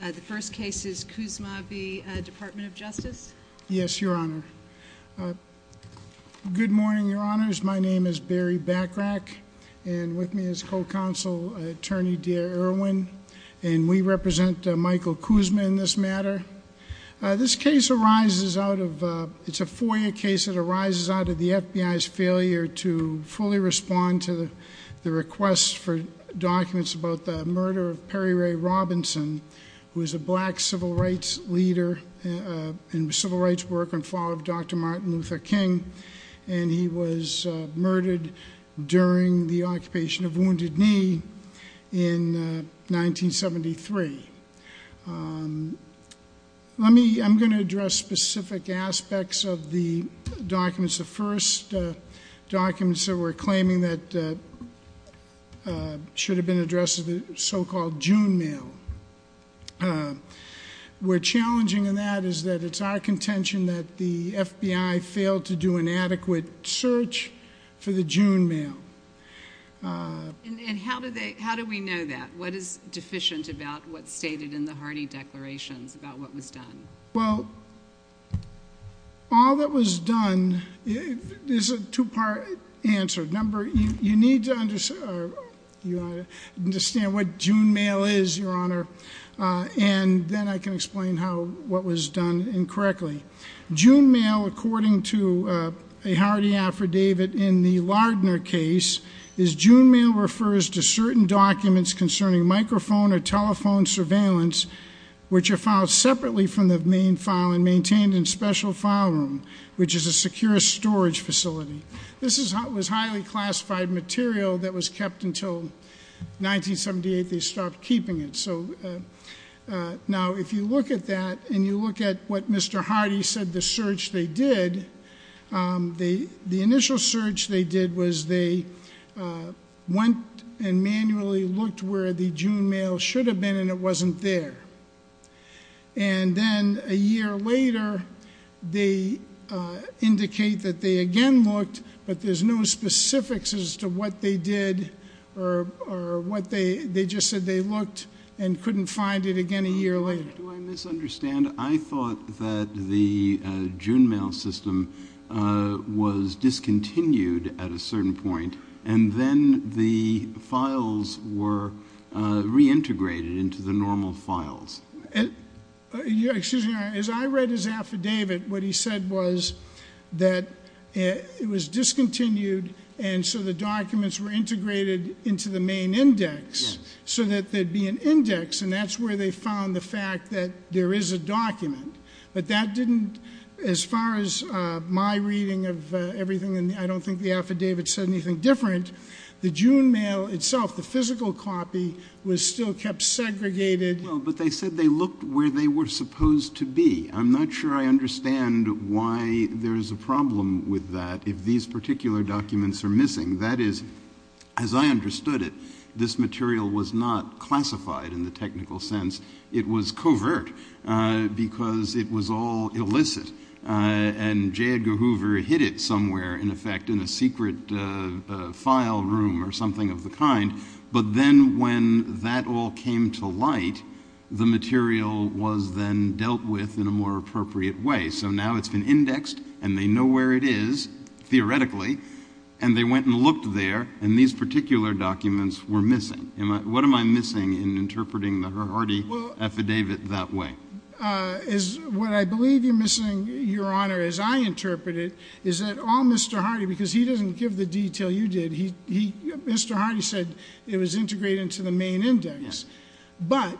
The first case is Kuzma v. Department of Justice. Yes, Your Honor. Good morning, Your Honors. My name is Barry Bachrach, and with me is Co-Counsel Attorney Dea Irwin, and we represent Michael Kuzma in this matter. This case arises out of, it's a FOIA case that arises out of the FBI's failure to fully respond to the request for documents about the murder of Perry Ray Robinson, who was a black civil rights leader and civil rights worker and father of Dr. Martin Luther King, and he was murdered during the occupation of Wounded Knee in 1973. Let me, I'm going to address specific aspects of the documents. The first documents that we're claiming that should have been addressed is the so-called June mail. We're challenging in that is that it's our contention that the FBI failed to do an adequate search for the June mail. And how do they, how do we know that? What is deficient about what's stated in the Hardy declarations about what was answered? Number, you need to understand what June mail is, Your Honor, and then I can explain how, what was done incorrectly. June mail, according to a Hardy affidavit in the Lardner case, is June mail refers to certain documents concerning microphone or telephone surveillance, which are filed separately from the main file and maintained in special file room, which is a secure storage facility. This is how it was highly classified material that was kept until 1978 they stopped keeping it. So now if you look at that and you look at what Mr. Hardy said the search they did, the initial search they did was they went and manually looked where the June mail should have been and it wasn't there. And then a year later they indicate that they again looked but there's no specifics as to what they did or what they, they just said they looked and couldn't find it again a year later. Do I misunderstand? I thought that the June mail system was discontinued at a certain point and then the files were reintegrated into the normal files. As I read his affidavit what he said was that it was discontinued and so the documents were integrated into the main index so that there'd be an index and that's where they found the fact that there is a document. But that didn't, as far as my reading of everything and I don't think the affidavit said anything different, the June mail itself, the still kept segregated. Well but they said they looked where they were supposed to be. I'm not sure I understand why there is a problem with that if these particular documents are missing. That is, as I understood it, this material was not classified in the technical sense. It was covert because it was all illicit and J. Edgar Hoover hid it somewhere in effect in a secret file room or something of the kind but then when that all came to light the material was then dealt with in a more appropriate way. So now it's been indexed and they know where it is theoretically and they went and looked there and these particular documents were missing. What am I missing in interpreting the Hardy affidavit that way? What I believe you're missing, Your Honor, as I interpret it, is that all Mr. Hardy, because he doesn't give the detail you did, Mr. Hardy said it was integrated into the main index. But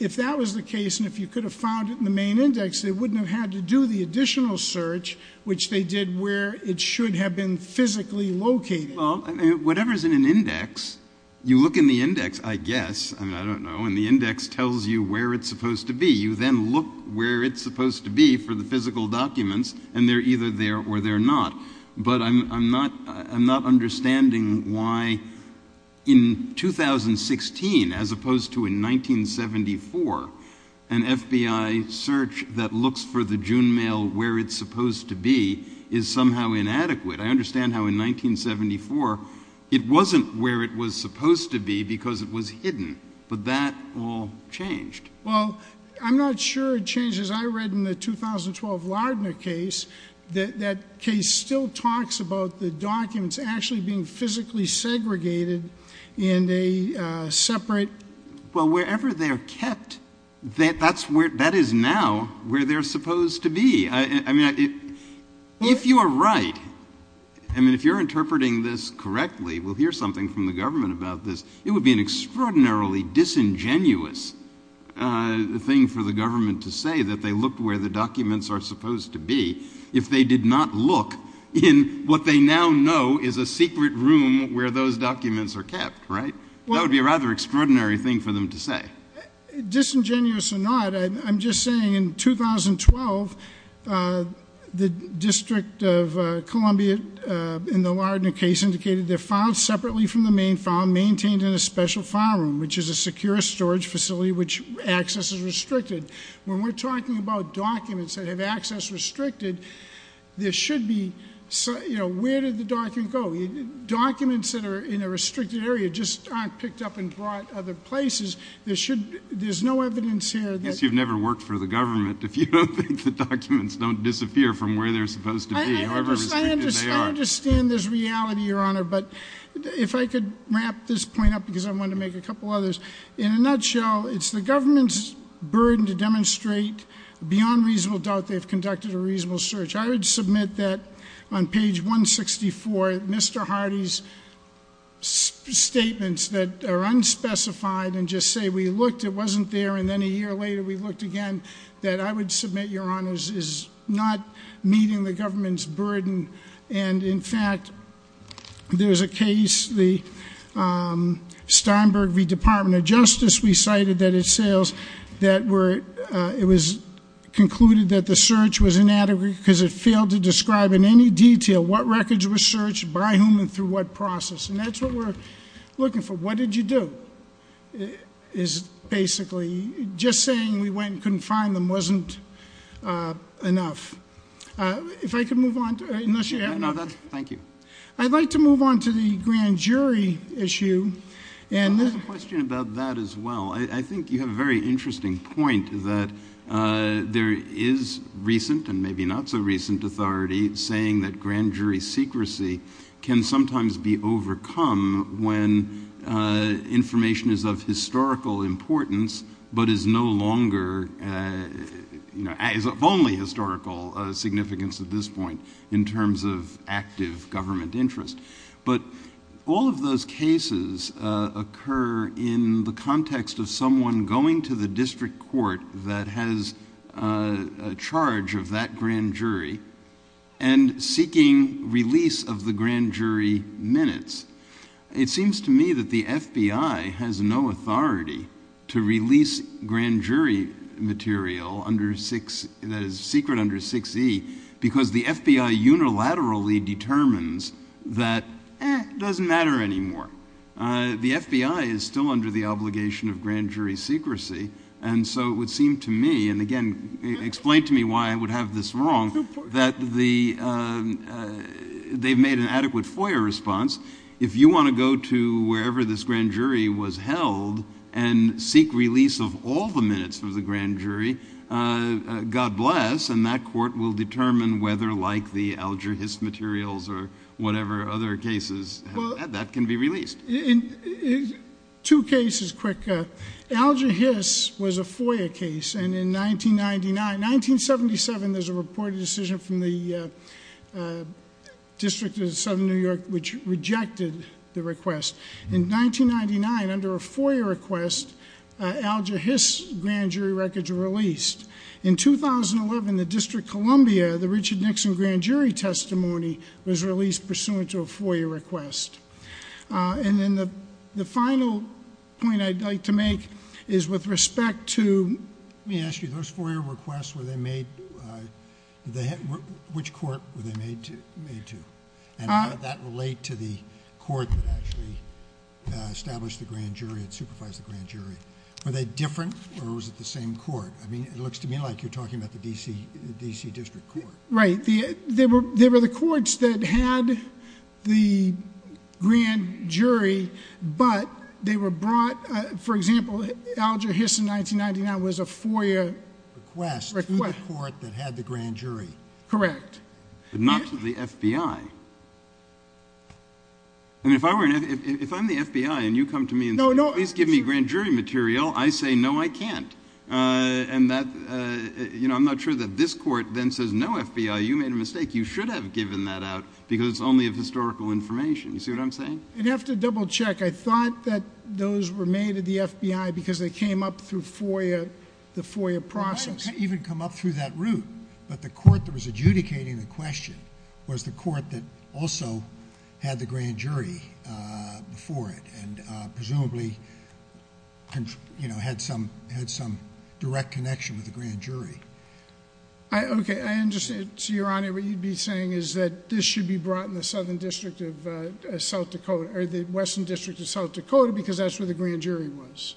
if that was the case and if you could have found it in the main index they wouldn't have had to do the additional search which they did where it should have been physically located. Well, whatever is in an index, you look in the index, I guess, I don't know, and the index tells you where it's supposed to be. You then look where it's supposed to be for the physical documents and they're either there or they're not. But I'm not understanding why in 2016 as opposed to in 1974 an FBI search that looks for the June mail where it's supposed to be is somehow inadequate. I understand how in 1974 it wasn't where it was supposed to be because it was hidden but that all changed. Well, I'm not sure it changed as I read in the 2012 Lardner case that that case still talks about the documents actually being physically segregated in a separate... Well, wherever they're kept that is now where they're supposed to be. I mean, if you are right, I mean, if you're interpreting this correctly, we'll hear something from the government about this, it would be an extraordinarily disingenuous thing for the government to say that they looked where the documents are supposed to be if they did not look in what they now know is a secret room where those documents are kept, right? That would be a rather extraordinary thing for them to say. Disingenuous or not, I'm just saying in 2012 the District of Columbia in the Lardner case indicated they're filed separately from the main file, maintained in a special file room, which is a secure storage facility which access is restricted. When we're talking about documents that have access restricted, there should be... you know, where did the document go? Documents that are in a restricted area just aren't picked up and brought other places. There should... there's no evidence here that... Yes, you've never worked for the government if you don't think the documents don't disappear from where they're supposed to be, however restricted they are. I understand this reality, Your Honor, but if I could wrap this point up because I think it's a burden to demonstrate beyond reasonable doubt they've conducted a reasonable search. I would submit that on page 164 Mr. Hardy's statements that are unspecified and just say we looked, it wasn't there, and then a year later we looked again that I would submit, Your Honors, is not meeting the government's burden and in fact there's a case, the Steinberg v. Department of Justice, we were... it was concluded that the search was inadequate because it failed to describe in any detail what records were searched, by whom, and through what process, and that's what we're looking for. What did you do is basically... just saying we went and couldn't find them wasn't enough. If I could move on... Thank you. I'd like to move on to the grand jury issue and... I have a question about that as well. I think you have a very good point that there is recent and maybe not so recent authority saying that grand jury secrecy can sometimes be overcome when information is of historical importance but is no longer... is of only historical significance at this point in terms of active government interest. But all of those cases occur in the context of someone going to the district court that has a charge of that grand jury and seeking release of the grand jury minutes. It seems to me that the FBI has no authority to release grand jury material under 6... secret under 6E because the FBI unilaterally determines that it doesn't matter anymore. The FBI is still under the obligation of grand jury secrecy and so it would seem to me, and again explain to me why I would have this wrong, that they've made an adequate FOIA response. If you want to go to wherever this grand jury was held and seek release of all the minutes of the grand jury, God bless, and that court will have that. That can be released. Two cases, quick. Alger Hiss was a FOIA case and in 1999... in 1977 there was a reported decision from the District of Southern New York which rejected the request. In 1999 under a FOIA request, Alger Hiss grand jury records were released. In 2011, the District of Columbia, the Richard Nixon grand jury testimony was released pursuant to a FOIA request. The final point I'd like to make is with respect to... Let me ask you, those FOIA requests were they made... which court were they made to? How did that relate to the court that actually established the grand jury and supervised the grand jury? Were they different or was it the same court? It looks to me like you're referring to the District Court. Right. They were the courts that had the grand jury, but they were brought... for example, Alger Hiss in 1999 was a FOIA request to the court that had the grand jury. Correct. But not to the FBI. If I'm the FBI and you come to me and say, please give me grand jury material, I say, no, I can't. I'm not sure that this court then says, no, FBI, you made a mistake. You should have given that out because it's only of historical information. You see what I'm saying? You'd have to double check. I thought that those were made at the FBI because they came up through FOIA, the FOIA process. They might have even come up through that route, but the court that was adjudicating the question was the court that also had the grand jury before it, and presumably had some direct connection with the grand jury. Okay. I understand, Your Honor, what you'd be saying is that this should be brought in the Southern District of South Dakota or the Western District of South Dakota because that's where the grand jury was.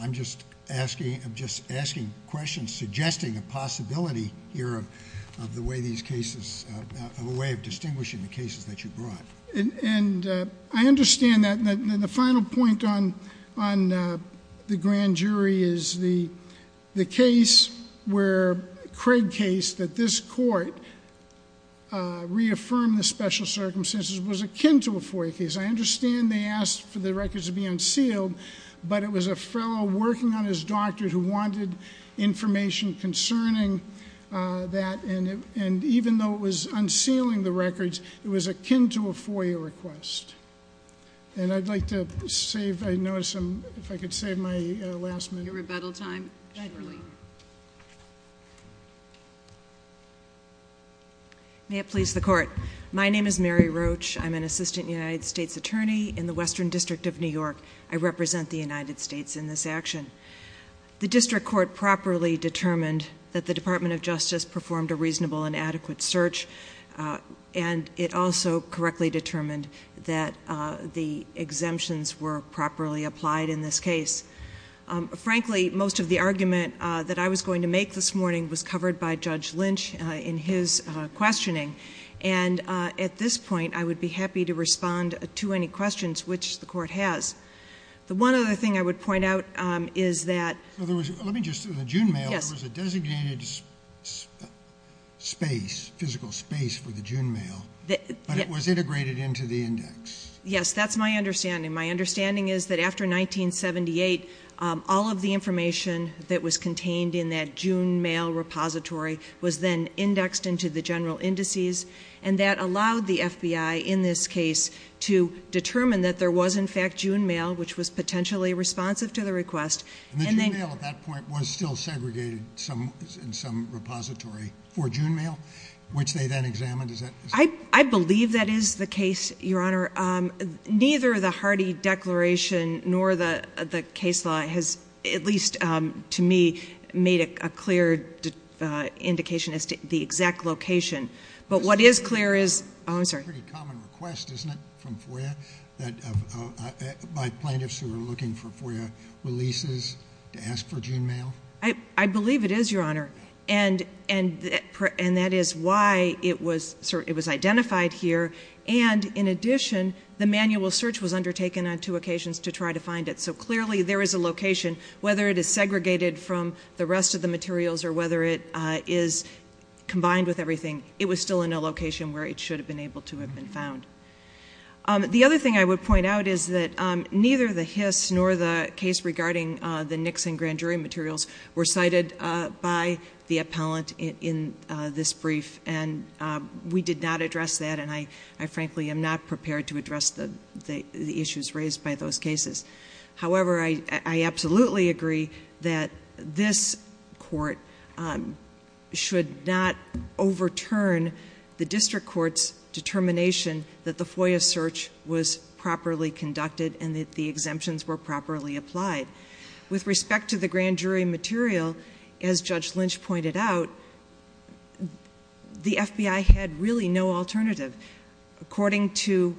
I'm just asking questions, suggesting a possibility here of a way of distinguishing the cases that you brought. And I understand that. And then the final point on the grand jury is the case where Craig case that this court reaffirmed the special circumstances was akin to a FOIA case. I understand they asked for the records to be unsealed, but it was a fellow working on his doctor who wanted information concerning that. And even though it was unsealing the records, it was akin to a FOIA request. And I'd like to save, I notice I'm, if I could save my last minute. Your rebuttal time. Surely. May it please the court. My name is Mary Roach. I'm an assistant United States attorney in the Western District of New York. I represent the United States in this action. The district court properly determined that the Department of Justice performed a reasonable and adequate search. And it also correctly determined that the exemptions were properly applied in this case. Frankly, most of the argument that I was going to make this morning was covered by Judge Lynch in his questioning. And at this point, I would be happy to respond to any questions, which the court has. The one other thing I would point out is that there was, let me just, in the June mail, there was a designated space, physical space for the June mail, but it was integrated into the index. Yes, that's my understanding. My understanding is that after 1978, all of the information that was contained in that And that allowed the FBI in this case to determine that there was in fact June mail, which was potentially responsive to the request. And the June mail at that point was still segregated in some repository for June mail, which they then examined. I believe that is the case, Your Honor. Neither the Hardy declaration nor the case law has, at least to me, made a clear indication as to the exact location. But what is clear is, oh, I'm sorry. It's a pretty common request, isn't it, from FOIA, by plaintiffs who are looking for FOIA releases to ask for June mail? I believe it is, Your Honor. And that is why it was identified here. And in addition, the manual search was undertaken on two occasions to try to find it. So clearly, there is a location, whether it is segregated from the rest of the materials or whether it is combined with everything, it was still in a location where it should have been able to have been found. The other thing I would point out is that neither the Hiss nor the case regarding the Nixon grand jury materials were cited by the appellant in this brief. And we did not address that. And I frankly am not prepared to address the issues raised by those cases. However, I absolutely agree that this court should not overturn the district court's determination that the FOIA search was properly conducted and that the exemptions were properly applied. With respect to the grand jury material, as Judge Lynch pointed out, the FBI had really no alternative. According to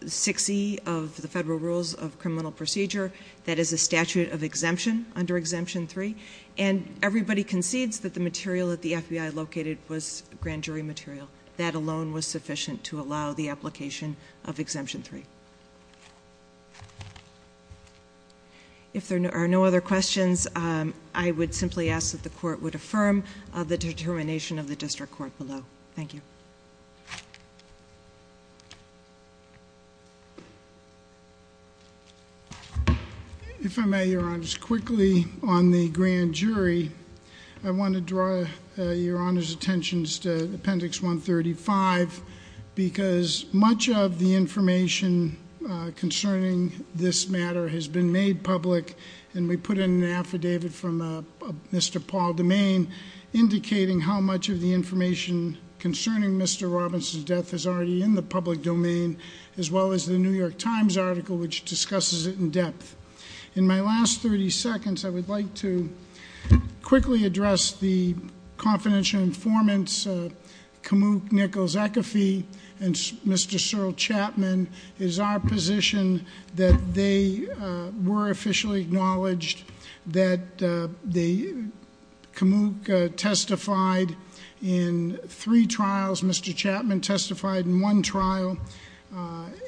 6E of the Federal Rules of Criminal Procedure, that is a statute of exemption under Exemption 3. And everybody concedes that the material that the FBI located was grand jury material. That alone was sufficient to allow the application of Exemption 3. If there are no other questions, I would simply ask that the court would affirm the determination of the district court below. Thank you. If I may, Your Honors, quickly on the grand jury, I want to draw Your Honors' attention to Appendix 135 because much of the information concerning this matter has been made public and we put in an affidavit from Mr. Paul DeMaine indicating how much of the information concerning Mr. Robbins' death is already in the public domain, as well as the New York Times article which discusses it in depth. In my last 30 seconds, I would like to quickly address the confidential informants, Kamuk Nichols-Ecafee and Mr. Searle Chapman. It is our position that they were officially acknowledged, that the Kamuk testified in three trials, Mr. Chapman testified in one trial,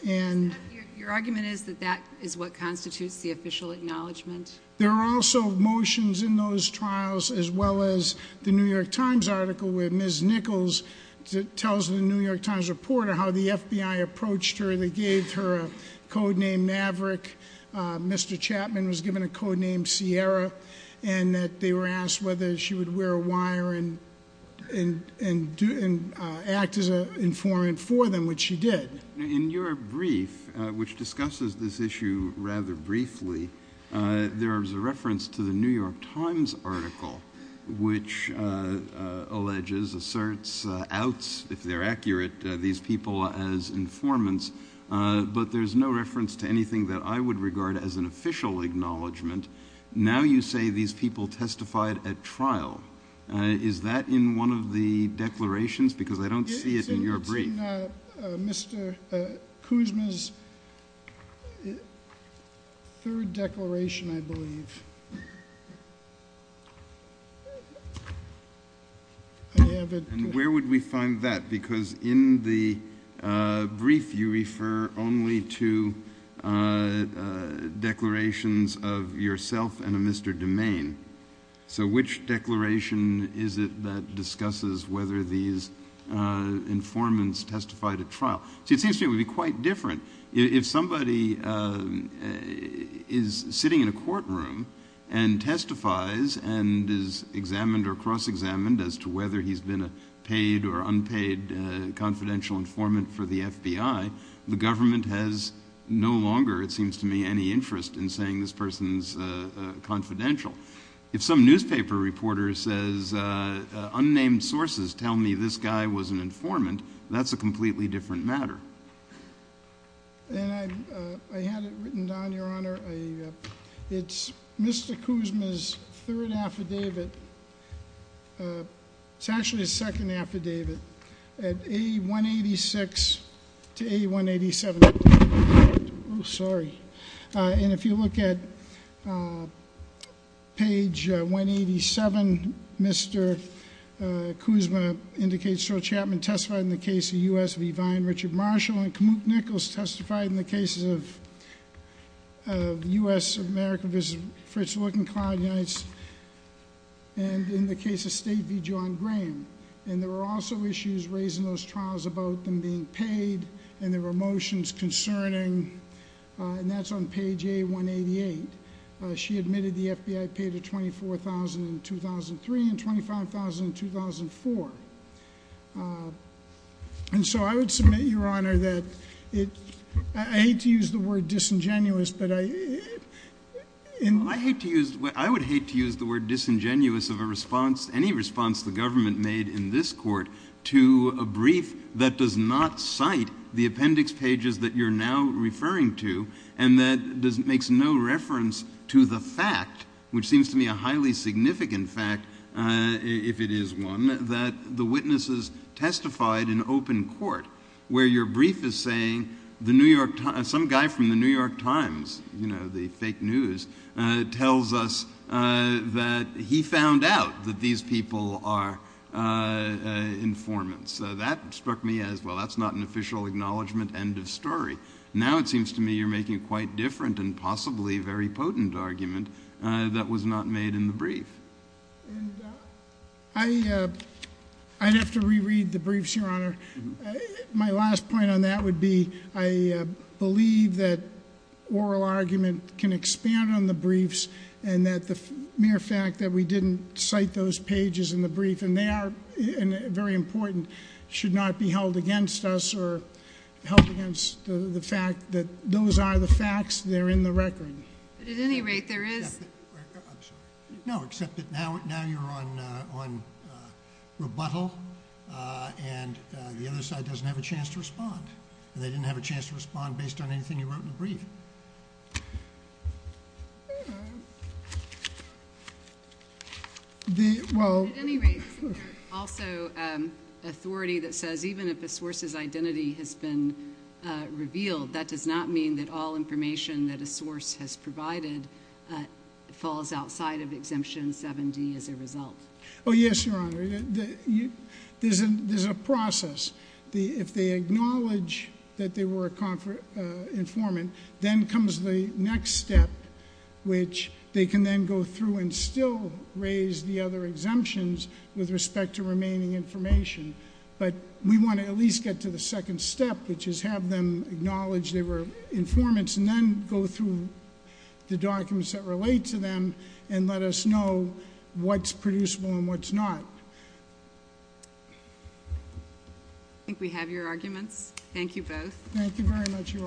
and- Your argument is that that is what constitutes the official acknowledgement? There are also motions in those trials, as well as the New York Times article where Ms. Nichols-Ecafee gave her a codename Maverick, Mr. Chapman was given a codename Sierra, and that they were asked whether she would wear a wire and act as an informant for them, which she did. In your brief, which discusses this issue rather briefly, there is a reference to the New York Times article which alleges, asserts, outs, if they're accurate, these people as informants, but there's no reference to anything that I would regard as an official acknowledgement. Now you say these people testified at trial. Is that in one of the declarations? Because I don't see it in your brief. It's in Mr. Kuzma's third declaration, I believe. I have a- Where would we find that? Because in the brief, you refer only to declarations of yourself and of Mr. DeMaine. So which declaration is it that discusses whether these informants testified at trial? See, it seems to me it would be quite different. If somebody is sitting in a courtroom and testifies and is examined or cross-examined as to whether he's been a paid or unpaid confidential informant for the FBI, the government has no longer, it seems to me, any interest in saying this person's confidential. If some newspaper reporter says, unnamed sources tell me this guy was an informant, that's a completely different matter. And I had it written down, Your Honor. It's Mr. Kuzma's third affidavit. It's actually his second affidavit, at A186 to A187, sorry. And if you look at page 187, Mr. Kuzma indicates Sir Chapman testified in the case of U.S. V. Vine, Richard Marshall, and Kamuk Nichols testified in the cases of U.S. America v. Fritz Lutzenclaw, and in the case of State v. John Graham, and there were also issues raised in those trials about them being paid, and there were motions concerning, and that's on page A188. She admitted the FBI paid her $24,000 in 2003, and $25,000 in 2004. And so I would submit, Your Honor, that it, I hate to use the word disingenuous, but I, in- I hate to use, I would hate to use the word disingenuous of a response, any response the government made in this court to a brief that does not cite the appendix pages that you're now referring to, and that does, makes no reference to the fact, which seems to me a highly significant fact, if it is one, that the witnesses testified in open court. Where your brief is saying, the New York, some guy from the New York Times, you know, the fake news, tells us that he found out that these people are informants. So that struck me as, well, that's not an official acknowledgement end of story. Now it seems to me you're making a quite different and possibly very potent argument that was not made in the brief. And I I'd have to re-read the briefs, Your Honor. My last point on that would be, I believe that oral argument can expand on the briefs, and that the mere fact that we didn't cite those pages in the brief, and they are very important, should not be held against us, or held against the fact that those are the facts. They're in the record. But at any rate, there is. I'm sorry. No, except that now you're on rebuttal, and the other side doesn't have a chance to respond. And they didn't have a chance to respond based on anything you wrote in the brief. The, well. At any rate, there's also authority that says even if a source's identity has been revealed, that does not mean that all information that a source has provided falls outside of the exemption 7D as a result. Yes, Your Honor, there's a process. If they acknowledge that they were a informant, then comes the next step, which they can then go through and still raise the other exemptions with respect to remaining information. But we want to at least get to the second step, which is have them acknowledge they were informants, and then go through the documents that relate to them, and let us know what's producible and what's not. I think we have your arguments. Thank you both. Thank you very much, Your Honors.